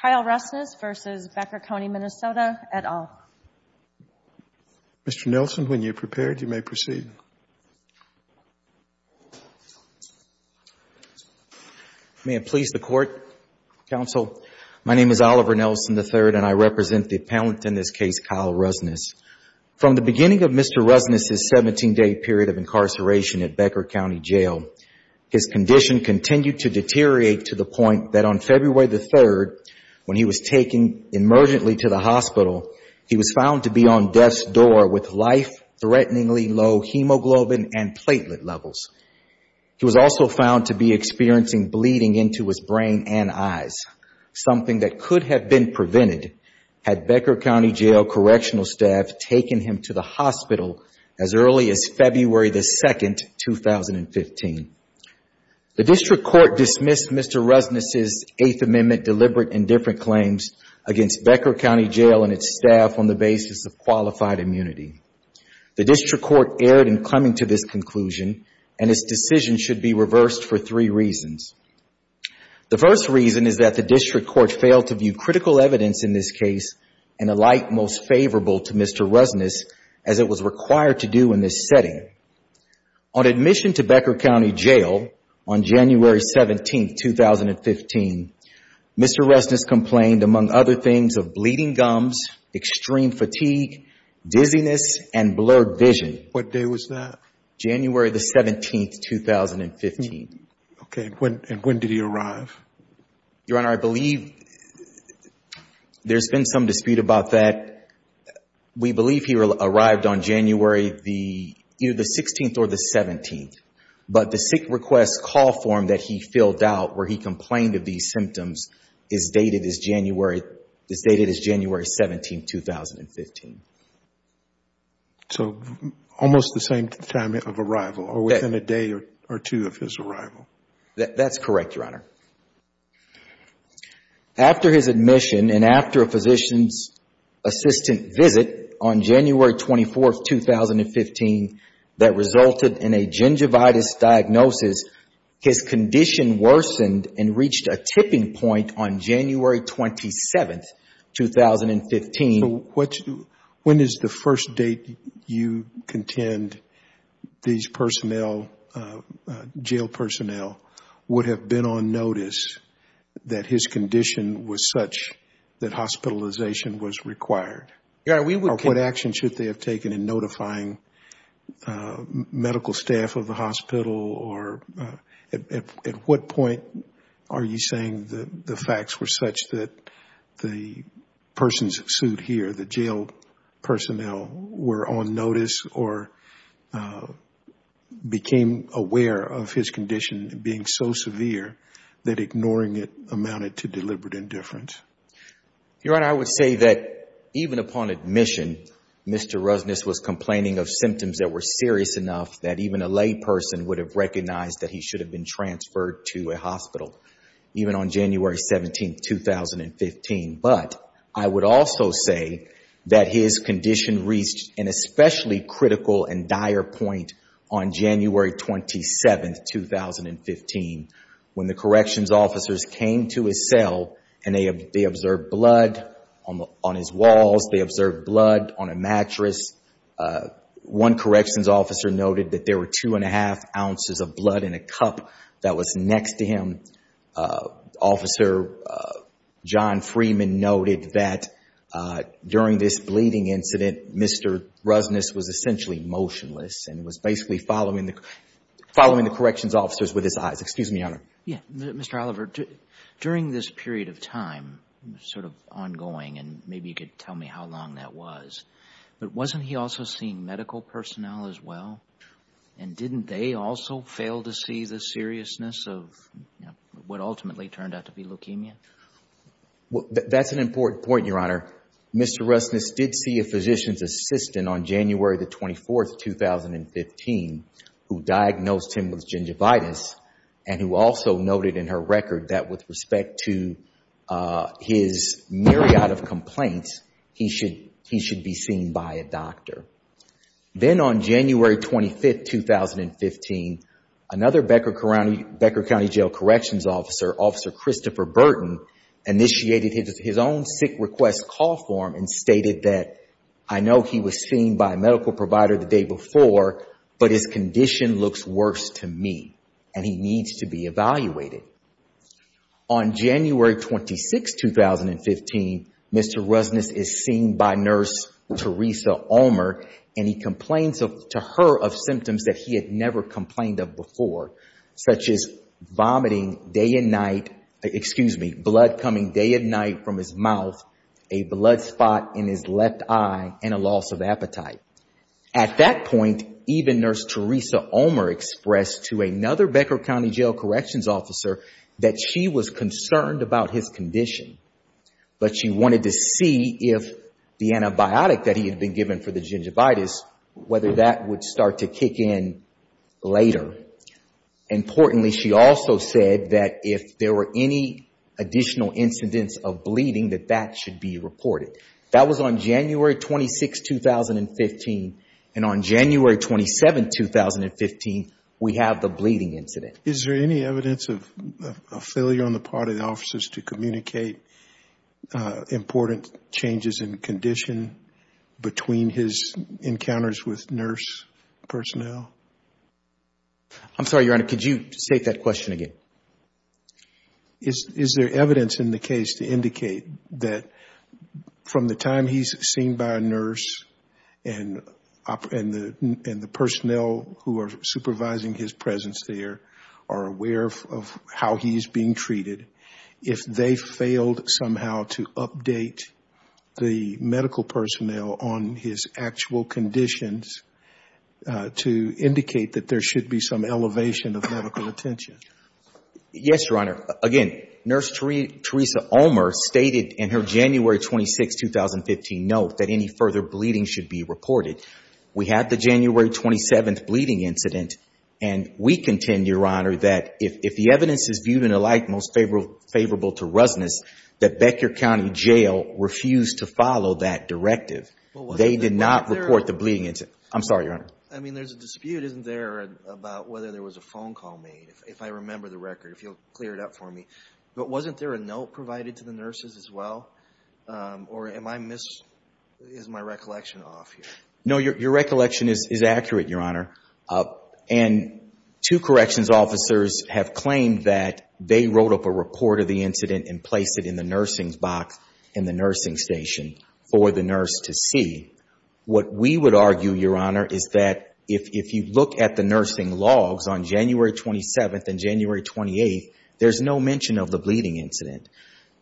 Kyle Rusness v. Becker County, Minnesota, et al. Mr. Nelson, when you're prepared, you may proceed. May it please the court, counsel. My name is Oliver Nelson III and I represent the appellant in this case, Kyle Rusness. From the beginning of Mr. Rusness' 17 day period of incarceration at Becker County Jail, his condition continued to deteriorate to the point that on February the 3rd, when he was taken emergently to the hospital, he was found to be on death's door with life-threateningly low hemoglobin and platelet levels. He was also found to be experiencing bleeding into his brain and eyes, something that could have been prevented had Becker County Jail correctional staff taken him to the hospital as early as February the 2nd, 2015. The district court dismissed Mr. Rusness' Eighth Amendment deliberate and different claims against Becker County Jail and its staff on the basis of qualified immunity. The district court erred in coming to this conclusion and its decision should be reversed for three reasons. The first reason is that the district court failed to view critical evidence in this case in a light most favorable to Mr. Rusness as it was required to do in this setting. On admission to Becker County Jail on January 17th, 2015, Mr. Rusness complained among other things of bleeding gums, extreme fatigue, dizziness, and blurred vision. What day was that? January the 17th, 2015. Okay. And when did he arrive? Your Honor, I believe there's been some dispute about that. We believe he arrived on January the 16th or the 17th, but the sick request call form that he filled out where he complained of these symptoms is dated as January 17th, 2015. So almost the same time of arrival or within a day or two of his arrival. That's correct, Your Honor. After his admission and after a physician's assistant visit on January 24th, 2015, that resulted in a gingivitis diagnosis, his condition worsened and reached a tipping point on January 27th, 2015. When is the first date you contend these jail personnel would have been on notice that his condition was such that hospitalization was required? Your Honor, we would- Or what action should they have taken in notifying medical staff of the hospital? Or at what point are you saying that the facts were such that the person's suit here, the jail personnel were on notice or became aware of his condition being so severe that ignoring it amounted to deliberate indifference? Your Honor, I would say that even upon admission, Mr. Rusness was complaining of symptoms that were serious enough that even a lay person would have recognized that he should have been transferred to a hospital even on January 17th, 2015. But I would also say that his condition reached an especially critical and dire point on January 27th, 2015, when the corrections officers came to his cell and they observed blood on his walls. They observed blood on a mattress. One corrections officer noted that there were two and a half ounces of blood in a cup that was next to him. Officer John Freeman noted that during this bleeding incident, Mr. Rusness was essentially motionless and was basically following the corrections officers with his eyes. Excuse me, Your Honor. Yeah. Mr. Oliver, during this period of time, sort of ongoing, and maybe you could tell me how long that was, but wasn't he also seeing medical personnel as well? And didn't they also fail to see the seriousness of what ultimately turned out to be leukemia? Well, that's an important point, Your Honor. Mr. Rusness did see a physician's assistant on January the 24th, 2015, who diagnosed him with gingivitis and who also noted in her record that with respect to his myriad of complaints, he should be seen by a doctor. Then on January 25th, 2015, another Becker County Jail Corrections Officer, Officer Christopher Burton, initiated his own sick request call form and stated that, I know he was seen by a medical provider the day before, but his condition looks worse to me and he needs to be evaluated. On January 26th, 2015, Mr. Rusness is seen by Nurse Teresa Ulmer and he complains to her of symptoms that he had never complained of before, such as vomiting day and night, excuse me, blood coming day and night from his mouth, a blood spot in his left eye and a loss of appetite. At that point, even Nurse Teresa Ulmer expressed to another Becker County Jail Corrections Officer that she was concerned about his condition, but she wanted to see if the antibiotic that he had been given for the later. Importantly, she also said that if there were any additional incidents of bleeding, that that should be reported. That was on January 26th, 2015 and on January 27th, 2015, we have the bleeding incident. Is there any evidence of a failure on the part of the officers to communicate important changes in condition between his encounters with nurse personnel? I'm sorry, Your Honor, could you state that question again? Is there evidence in the case to indicate that from the time he's seen by a nurse and the personnel who are supervising his presence there are aware of how he's being treated, if they failed somehow to update the case, to indicate that there should be some elevation of medical attention? Yes, Your Honor. Again, Nurse Teresa Ulmer stated in her January 26, 2015 note that any further bleeding should be reported. We had the January 27th bleeding incident and we contend, Your Honor, that if the evidence is viewed in a light most favorable to Rusnus, that Becker County Jail refused to follow that directive. They did not report the bleeding incident. I'm sorry, Your Honor. I mean, there's a dispute, isn't there, about whether there was a phone call made, if I remember the record, if you'll clear it up for me, but wasn't there a note provided to the nurses as well, or is my recollection off? No, your recollection is accurate, Your Honor, and two corrections officers have claimed that they wrote up a report of the incident and placed it in the nursing's box in the nursing station for the nurse to see. What we would argue, Your Honor, is that if you look at the nursing logs on January 27th and January 28th, there's no mention of the bleeding incident.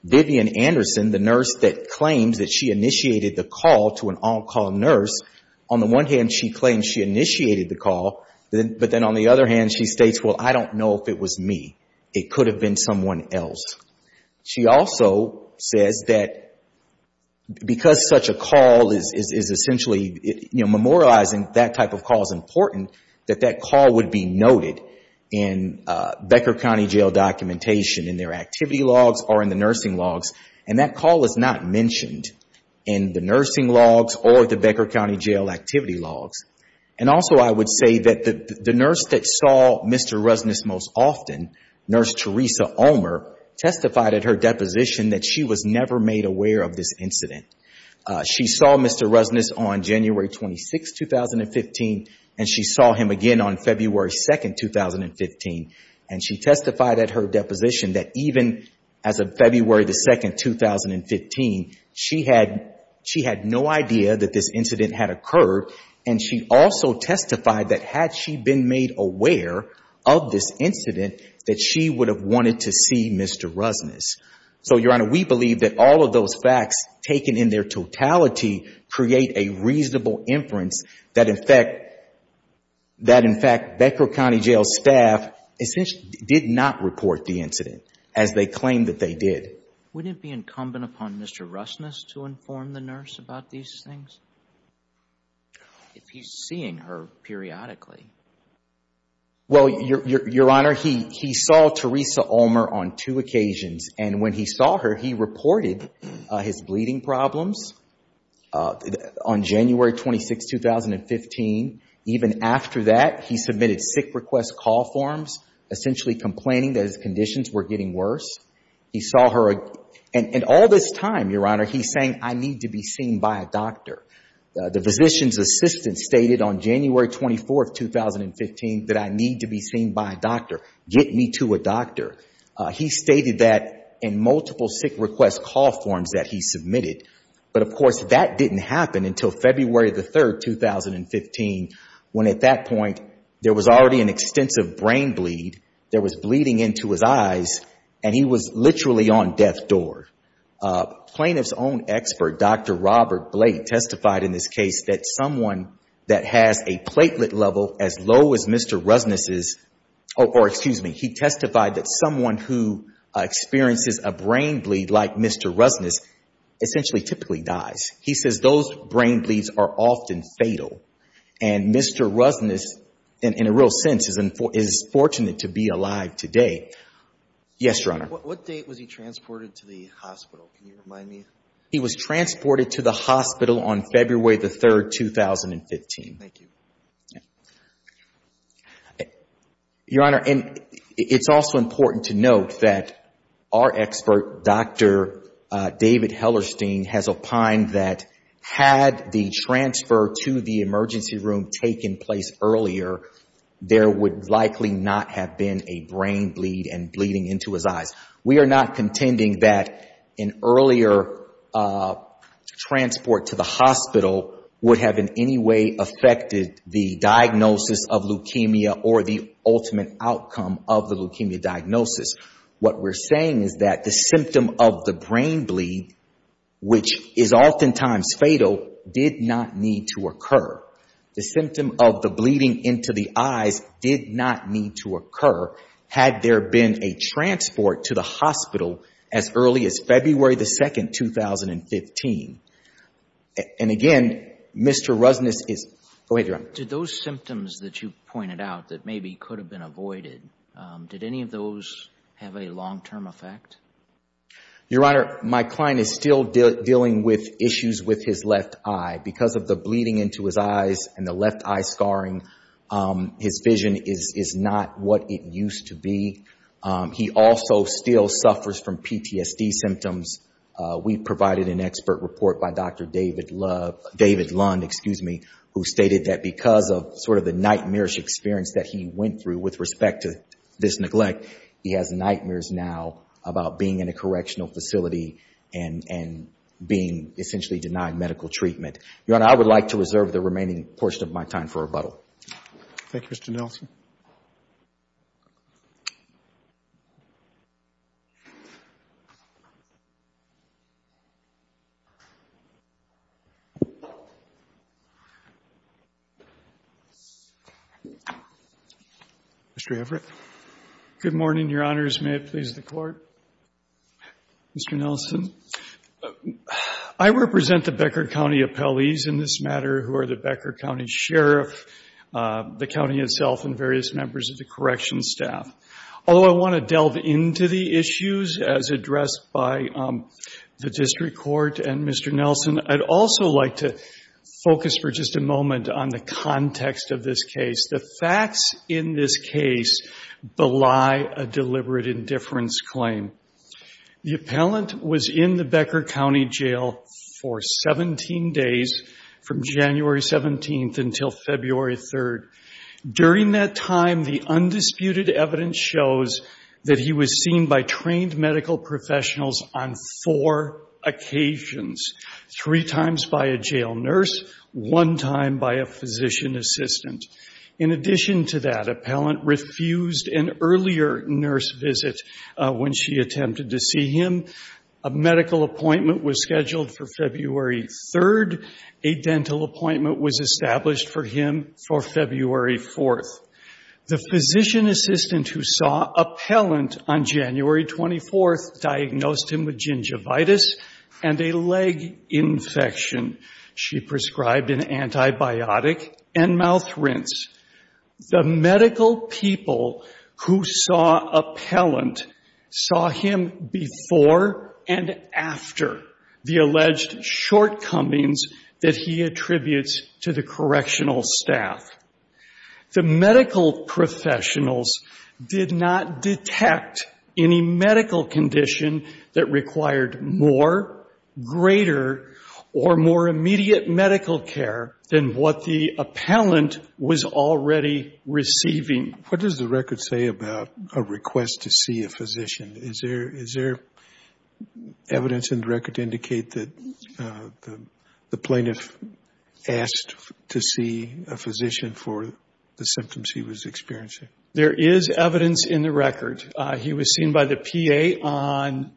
Vivian Anderson, the nurse that claims that she initiated the call to an on-call nurse, on the one hand, she claims she initiated the call, but then on the other hand, she states, well, I don't know if it was me. It could have been someone else. She also says that because such a call is essentially memorializing, that type of call is important, that that call would be noted in Becker County Jail documentation, in their activity logs or in the nursing logs, and that call is not mentioned in the nursing logs or the Becker County Jail activity logs. Also, I would say that the nurse that saw Mr. Rusness testified at her deposition that she was never made aware of this incident. She saw Mr. Rusness on January 26th, 2015, and she saw him again on February 2nd, 2015. She testified at her deposition that even as of February the 2nd, 2015, she had no idea that this incident had occurred, and she also testified that had she been made aware of this incident, that she would have wanted to see Mr. Rusness, so Your Honor, we believe that all of those facts taken in their totality create a reasonable inference that, in fact, Becker County Jail staff essentially did not report the incident as they claimed that they did. Wouldn't it be incumbent upon Mr. Rusness to inform the nurse about these things? If he's seeing her periodically. Well, Your Honor, he saw Teresa Ulmer on two occasions, and when he saw her, he reported his bleeding problems on January 26th, 2015. Even after that, he submitted sick request call forms, essentially complaining that his conditions were getting worse. He saw her, and all this time, Your Honor, he's saying, I need to be seen by a doctor. The physician's assistant stated on January 24th, 2015, that I need to be seen by a doctor. Get me to a doctor. He stated that in multiple sick request call forms that he submitted, but, of course, that didn't happen until February the 3rd, 2015, when at that point, there was already an extensive brain bleed. There was bleeding into his eyes, and he was literally on death's door. Plaintiff's own expert, Dr. Robert Blake, testified in this case that someone that has a platelet level as low as Mr. Rusness's, or excuse me, he testified that someone who experiences a brain bleed like Mr. Rusness essentially typically dies. He says those brain bleeds are often fatal, and Mr. Rusness, in a real sense, is fortunate to be alive today. Yes, Your Honor. What date was he transported to the hospital? Can you remind me? He was transported to the hospital on February the 3rd, 2015. Thank you. Your Honor, and it's also important to note that our expert, Dr. David Hellerstein, has opined that had the transfer to the emergency room taken place earlier, there would likely not have been a brain bleed and bleeding into his eyes. We are not contending that an earlier transport to the hospital would have in any way affected the diagnosis of leukemia or the ultimate outcome of the leukemia diagnosis. What we're saying is that the symptom of the brain bleed, which is oftentimes fatal, did not need to occur. The symptom of the bleeding into the eyes did not need to occur had there been a transport to the hospital as early as February the 2nd, 2015. And again, Mr. Rusness is... Go ahead, Your Honor. Did those symptoms that you pointed out that maybe could have been avoided, did any of those have a long-term effect? Your Honor, my client is still dealing with issues with his left eye. Because of the bleeding into his eyes and the left eye scarring, his vision is not what it used to be. He also still suffers from PTSD symptoms. We provided an expert report by Dr. David Lund, who stated that because of sort of the nightmarish experience that he went through with respect to this neglect, he has nightmares now about being in a correctional facility and being essentially denied medical treatment. Your Honor, I would like to reserve the remaining portion of my time for rebuttal. Thank you, Mr. Nelson. Mr. Everett. Good morning, Your Honors. May it please the Court. Mr. Nelson, I represent the Becker County appellees in this matter who are the Becker County Sheriff, the county itself, and various members of the correction Everett to come up to the podium and give us a brief introduction about his Although I want to delve into the issues as addressed by the district court and Mr. Nelson, I'd also like to focus for just a moment on the context of this case. The facts in this case belie a deliberate indifference claim. The appellant was in the Becker County jail for 17 days from January 17th until February 3rd. During that time, the undisputed evidence shows that he was seen by trained medical professionals on four occasions, three times by a jail nurse, one time by a physician assistant. In addition to that, appellant refused an earlier nurse visit when she attempted to see him. A medical appointment was scheduled for February 3rd. A dental appointment was established for him for February 4th. The physician assistant who saw appellant on January 24th diagnosed him with gingivitis and a leg infection. She prescribed an antibiotic and mouth rinse. The medical people who saw appellant saw him before and after the alleged shortcomings that he attributes to the correctional staff. The medical professionals did not detect any medical condition that required more, greater, or more immediate medical care than what the appellant was already receiving. What does the record say about a request to see a physician? Is there evidence in the record to indicate that the plaintiff asked to see a physician for the symptoms he was experiencing? There is evidence in the record. He was seen by the PA on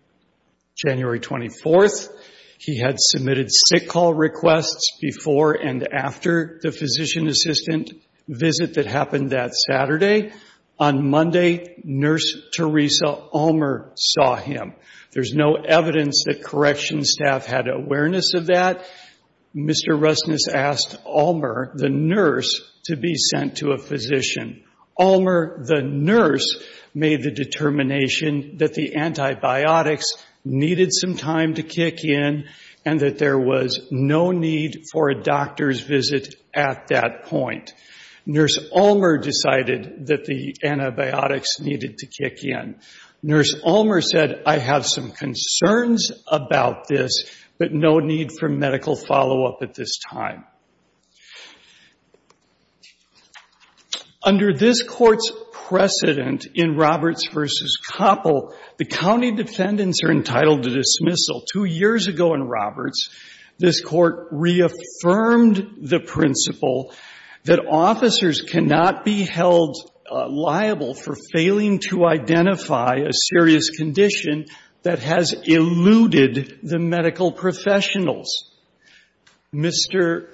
January 24th. He had submitted sick call requests before and after the physician assistant visit that happened that Saturday. On Monday, nurse Teresa Ulmer saw him. There's no evidence that correction staff had awareness of that. Mr. Rusness asked Ulmer, the nurse, to be sent to a physician. Ulmer, the nurse, made the determination that the antibiotics needed some time to kick in and that there was no need for a doctor's visit at that point. Nurse Ulmer decided that the antibiotics needed to kick in. Nurse Ulmer said, I have some concerns about this, but no need for medical follow-up at this time. Under this court's precedent in Roberts v. Koppel, the county defendants are entitled to dismissal. Two years ago in Roberts, this court reaffirmed the principle that officers cannot be held liable for failing to identify a serious condition that has eluded the medical professionals. Mr.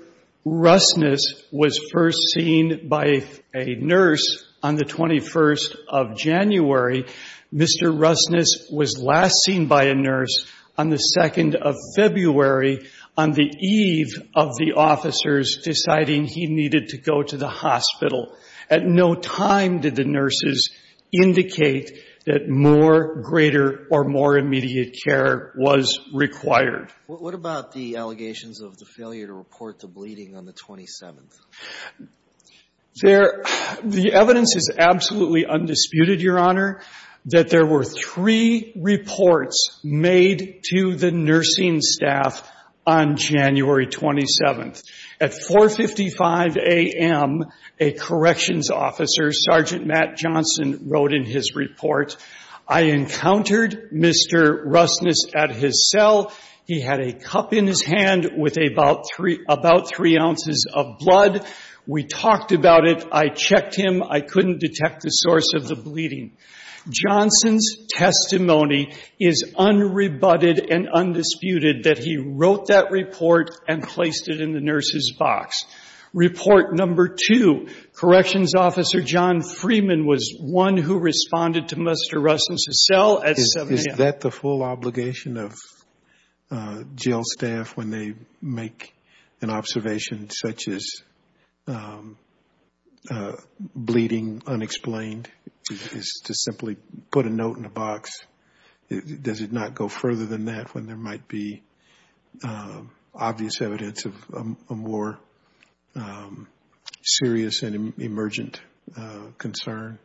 Rusness was first seen by a nurse on the 21st of January. Mr. Rusness was last seen by a nurse on the 2nd of February on the eve of the officers deciding he needed to go to the hospital. At no time did the nurses indicate that more, greater, or more immediate care was required. What about the allegations of the failure to report the bleeding on the 27th? There, the evidence is absolutely undisputed, Your Honor, that there were three reports made to the nursing staff on January 27th. At 4.55 a.m., a corrections officer, Sergeant Matt Johnson, wrote in his report, I encountered Mr. Rusness at his cell. He had a cup in his hand with about three ounces of blood. We talked about it. I checked him. I couldn't detect the source of the bleeding. Johnson's testimony is unrebutted and undisputed that he wrote that report and placed it in the nurse's box. Report number two, corrections officer John Freeman was one who responded to Mr. Rusness's cell at 7 a.m. Is that the full obligation of jail staff when they make an observation such as bleeding unexplained, is to simply put a note in a box? Does it not go further than that when there might be obvious evidence of a more serious and emergent concern?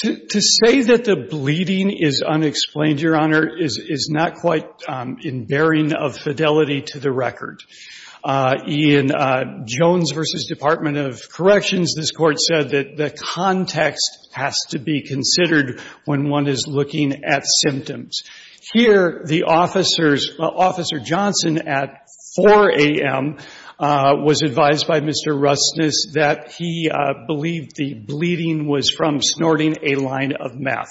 To say that the bleeding is unexplained, Your Honor, is not quite in bearing of fidelity to the record. In Jones v. Department of Corrections, this Court said that the context has to be considered when one is looking at symptoms. Here, the officers, Officer Johnson at 4 a.m., was advised by Mr. Rusness that the bleeding was from snorting a line of meth.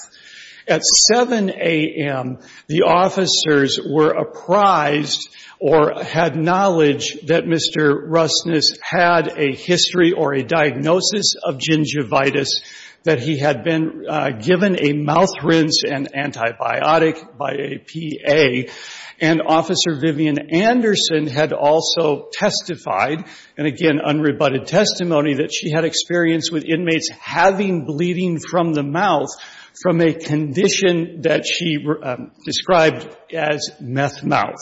At 7 a.m., the officers were apprised or had knowledge that Mr. Rusness had a history or a diagnosis of gingivitis, that he had been given a mouth rinse and antibiotic by a PA. And Officer Vivian Anderson had also testified, and again unrebutted testimony, that she had experience with inmates having bleeding from the mouth from a condition that she described as meth mouth.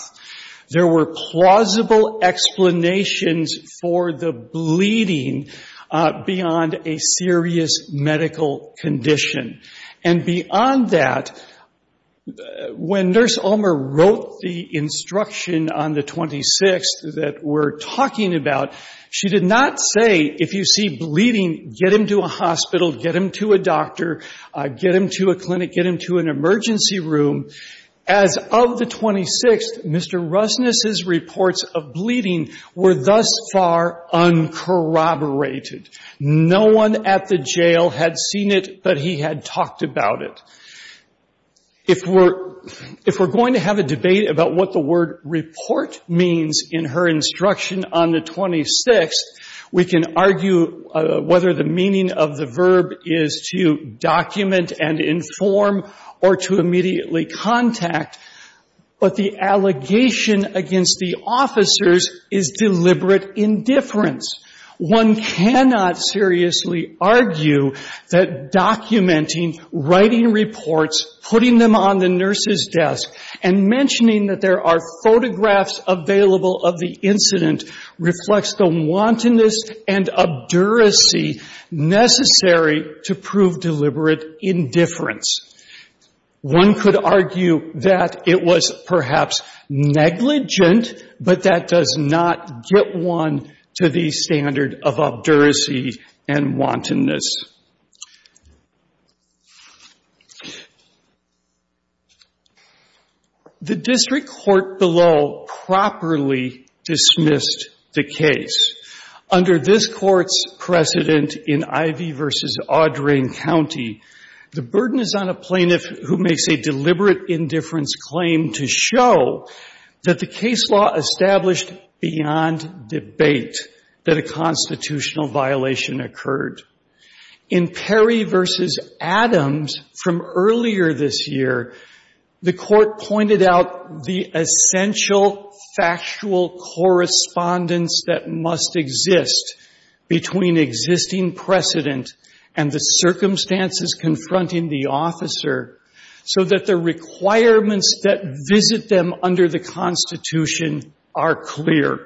There were plausible explanations for the bleeding beyond a serious medical condition. And beyond that, when Nurse Ulmer wrote the instruction on the 26th that we're talking about, she did not say, if you see bleeding, get him to a hospital, get him to a doctor, get him to a clinic, get him to an emergency room. As of the 26th, Mr. Rusness's reports of bleeding were thus far uncorroborated. No one at the jail had seen it, but he had talked about it. If we're going to have a debate about what the word report means in her instruction on the 26th, we can argue whether the meaning of the verb is to document and inform or to immediately contact, but the allegation against the officers is deliberate indifference. One cannot seriously argue that documenting, writing reports, putting them on the record of an incident reflects the wantonness and abduracy necessary to prove deliberate indifference. One could argue that it was perhaps negligent, but that does not get one to the standard of abduracy and wantonness. The district court below properly dismissed the case. Under this court's precedent in Ivey v. Audrain County, the burden is on a plaintiff who makes a deliberate indifference claim to show that the case law established beyond debate that a constitutional violation occurred. In Perry v. Adams from earlier this year, the court pointed out the essential factual correspondence that must exist between existing precedent and the circumstances confronting the officer so that the requirements that visit them under the Constitution are clear.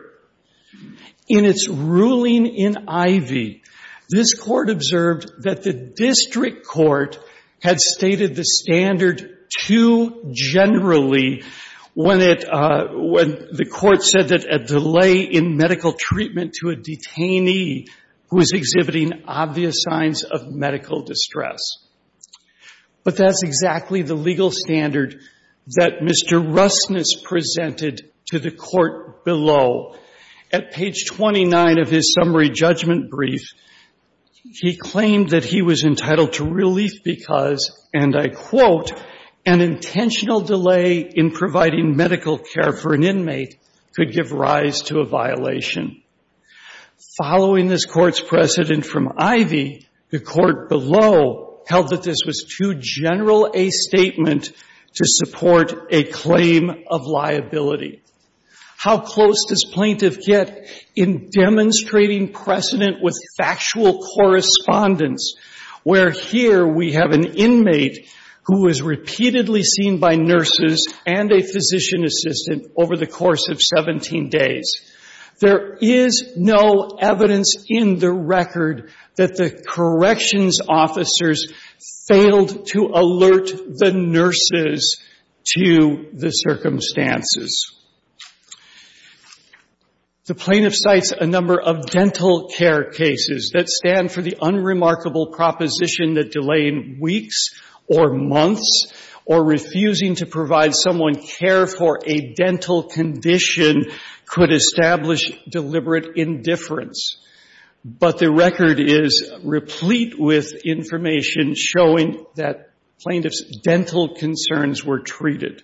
In its ruling in Ivey, this Court observed that the district court had stated the standard too generally when it — when the Court said that a delay in medical treatment to a detainee who is exhibiting obvious signs of medical distress. But that's exactly the legal standard that Mr. Russness presented to the court below. At page 29 of his summary judgment brief, he claimed that he was entitled to relief because, and I quote, an intentional delay in providing medical care for an inmate could give rise to a violation. Following this court's precedent from Ivey, the court below held that this was too general a statement to support a claim of liability. How close does plaintiff get in demonstrating precedent with factual correspondence where here we have an inmate who is repeatedly seen by nurses and a physician assistant over the course of 17 days? There is no evidence in the record that the corrections officers failed to alert the nurses to the circumstances. The plaintiff cites a number of dental care cases that stand for the unremarkable proposition that delaying weeks or months or refusing to provide someone care for a dental condition could establish deliberate indifference. But the record is replete with information showing that plaintiff's dental concerns were treated.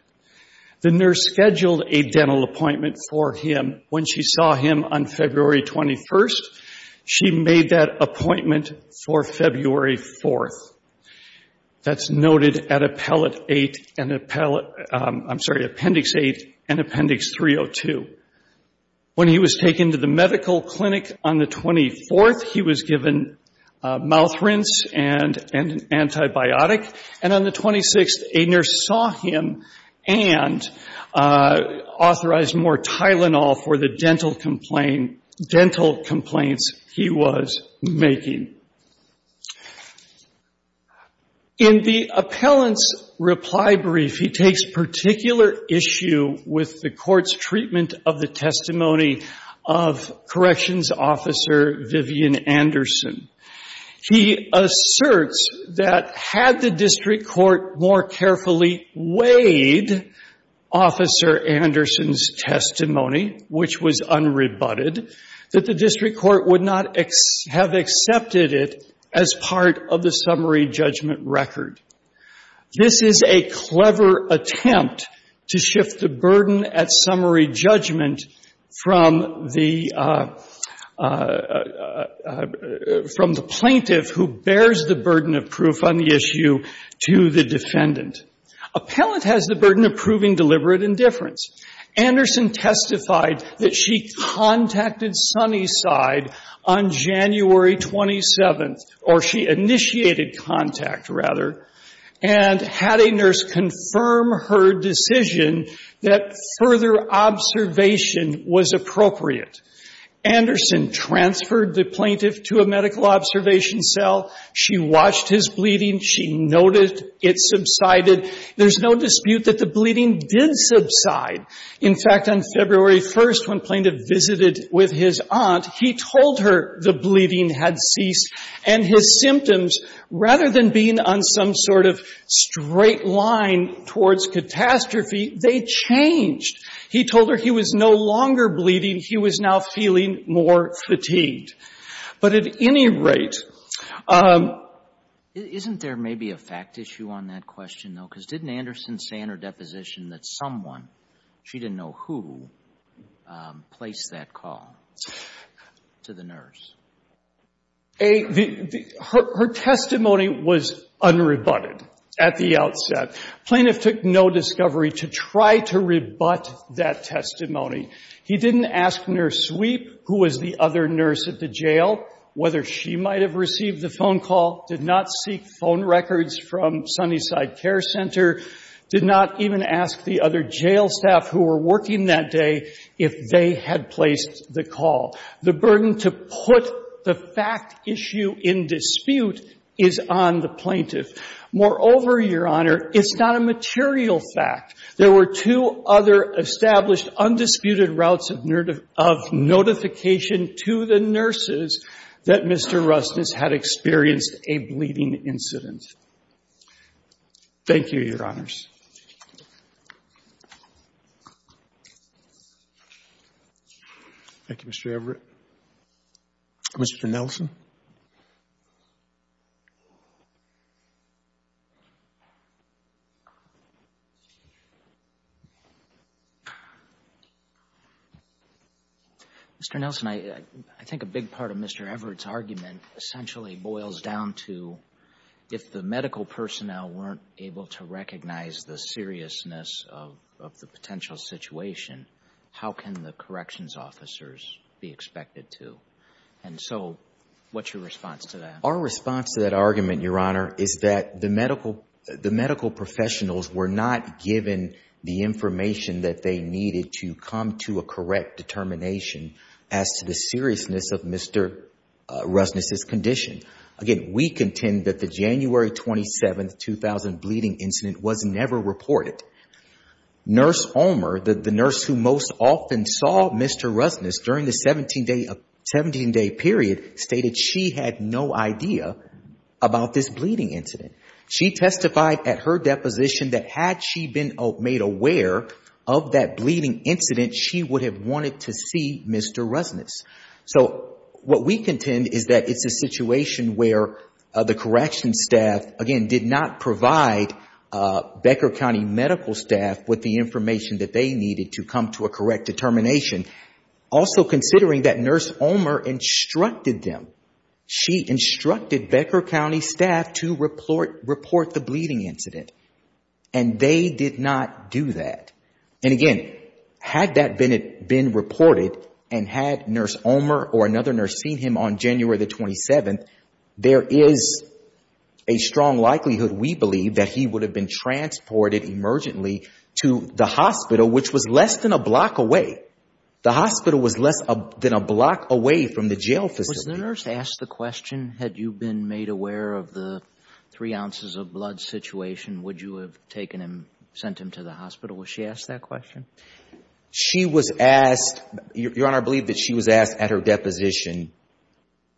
The nurse scheduled a dental appointment for him. When she saw him on February 21st, she made that appointment for February 4th. That's noted at Appellate 8 and Appellate, I'm sorry, Appendix 8 and Appendix 302. When he was taken to the medical clinic on the 24th, he was given a mouth rinse and an antibiotic. And on the 26th, a nurse saw him and authorized more Tylenol for the dental complaints he was making. In the appellant's reply brief, he takes particular issue with the court's treatment of the testimony of Corrections Officer Vivian Anderson. He asserts that had the district court more carefully weighed Officer Anderson's testimony, which was unrebutted, that the district court would not have accepted it as part of the summary judgment record. This is a clever attempt to shift the burden at summary judgment from the plaintiff who bears the burden of proof on the issue to the defendant. Appellate has the burden of proving deliberate indifference. Anderson testified that she contacted Sunnyside on January 27th, or she initiated contact rather, and had a nurse confirm her decision that further observation was appropriate. Anderson transferred the plaintiff to a medical observation cell. She watched his bleeding. She noted it subsided. There's no dispute that the bleeding did subside. In fact, on February 1st, when Plaintiff visited with his aunt, he told her the bleeding had ceased, and his symptoms, rather than being on some sort of straight line towards catastrophe, they changed. He told her he was no longer bleeding, he was now feeling more fatigued. But at any rate, isn't there maybe a fact issue on that question, though, because didn't Anderson say in her deposition that someone, she didn't know who, placed that call to the nurse? Her testimony was unrebutted at the outset. Plaintiff took no discovery to try to rebut that testimony. He didn't ask Nurse Sweep, who was the other nurse at the jail, whether she might have received the phone call, did not seek phone records from Sunnyside Care Center, did not even ask the other jail staff who were working that day if they had placed the call. The burden to put the fact issue in dispute is on the plaintiff. Moreover, Your Honor, it's not a material fact. There were two other established, undisputed routes of notification to the nurses that Mr. Rustis had experienced a bleeding incident. Thank you, Your Honors. Thank you, Mr. Everett. Mr. Nelson? Mr. Nelson, I think a big part of Mr. Everett's argument essentially boils down to if the medical personnel weren't able to recognize the seriousness of the potential situation, how can the corrections officers be expected to? And so what's your response to that? Our response to that argument, Your Honor, is that the medical professionals were not given the information that they needed to come to a correct determination as to the seriousness of Mr. Rustis's condition. Again, we contend that the January 27, 2000, bleeding incident was never reported. Nurse Ulmer, the nurse who most often saw Mr. Rustis during the 17-day period, stated she had no idea about this bleeding incident. She testified at her deposition that had she been made aware of that bleeding incident, she would have wanted to see Mr. Rustis. So what we contend is that it's a situation where the corrections staff, again, did not provide Becker County medical staff with the information that they needed to come to a correct determination, also considering that Nurse Ulmer instructed them. She instructed Becker County staff to report the bleeding incident. And they did not do that. And again, had that been reported and had Nurse Ulmer or another nurse seen him on January 27, there is a strong likelihood, we believe, that he would have been transported emergently to the hospital, which was less than a block away. The hospital was less than a block away from the jail facility. Was the nurse asked the question, had you been made aware of the three ounces of blood situation, would you have taken him, sent him to the hospital? Was she asked that question? She was asked, Your Honor, I believe that she was asked at her deposition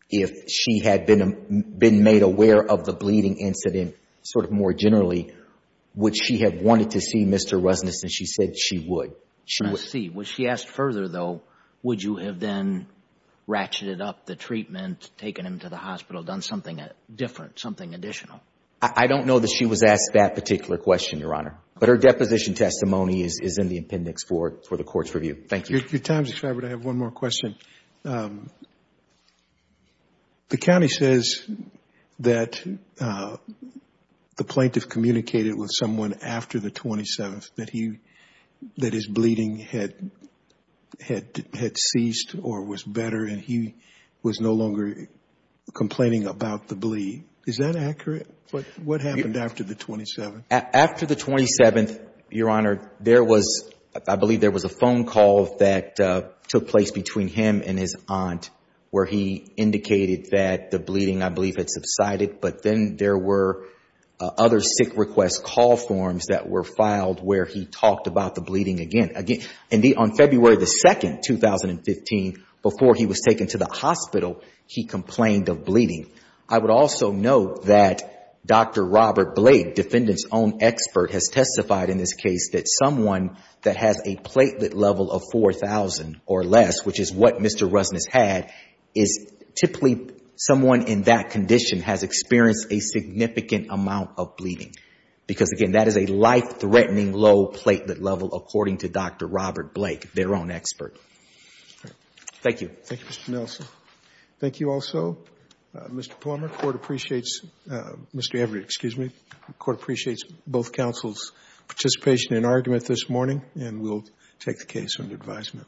if she had been made aware of the bleeding incident, sort of more generally, would she have wanted to see Mr. Rustis, and she said she would. I see. Was she asked further, though, would you have then ratcheted up the treatment, taken him to the hospital, done something different, something additional? I don't know that she was asked that particular question, Your Honor. But her deposition testimony is in the appendix for the court's review. Thank you. Your time is expired, but I have one more question. The county says that the plaintiff communicated with someone after the 27th that his bleeding had ceased or was better, and he was no longer complaining about the bleed. Is that accurate? What happened after the 27th? After the 27th, Your Honor, I believe there was a phone call that took place between him and his aunt where he indicated that the bleeding, I believe, had subsided. But then there were other sick request call forms that were filed where he talked about the bleeding again. Indeed, on February 2, 2015, before he was taken to the hospital, he complained of bleeding. I would also note that Dr. Robert Blake, defendant's own expert, has testified in this case that someone that has a platelet level of 4,000 or less, which is what Mr. Rustis had, is typically someone in that condition has experienced a significant amount of bleeding. Because, again, that is a life-threatening low platelet level, according to Dr. Robert Blake, their own expert. Thank you. Thank you, Mr. Nelson. Thank you also, Mr. Palmer. Court appreciates both counsel's participation in argument this morning, and we'll take the case under advisement.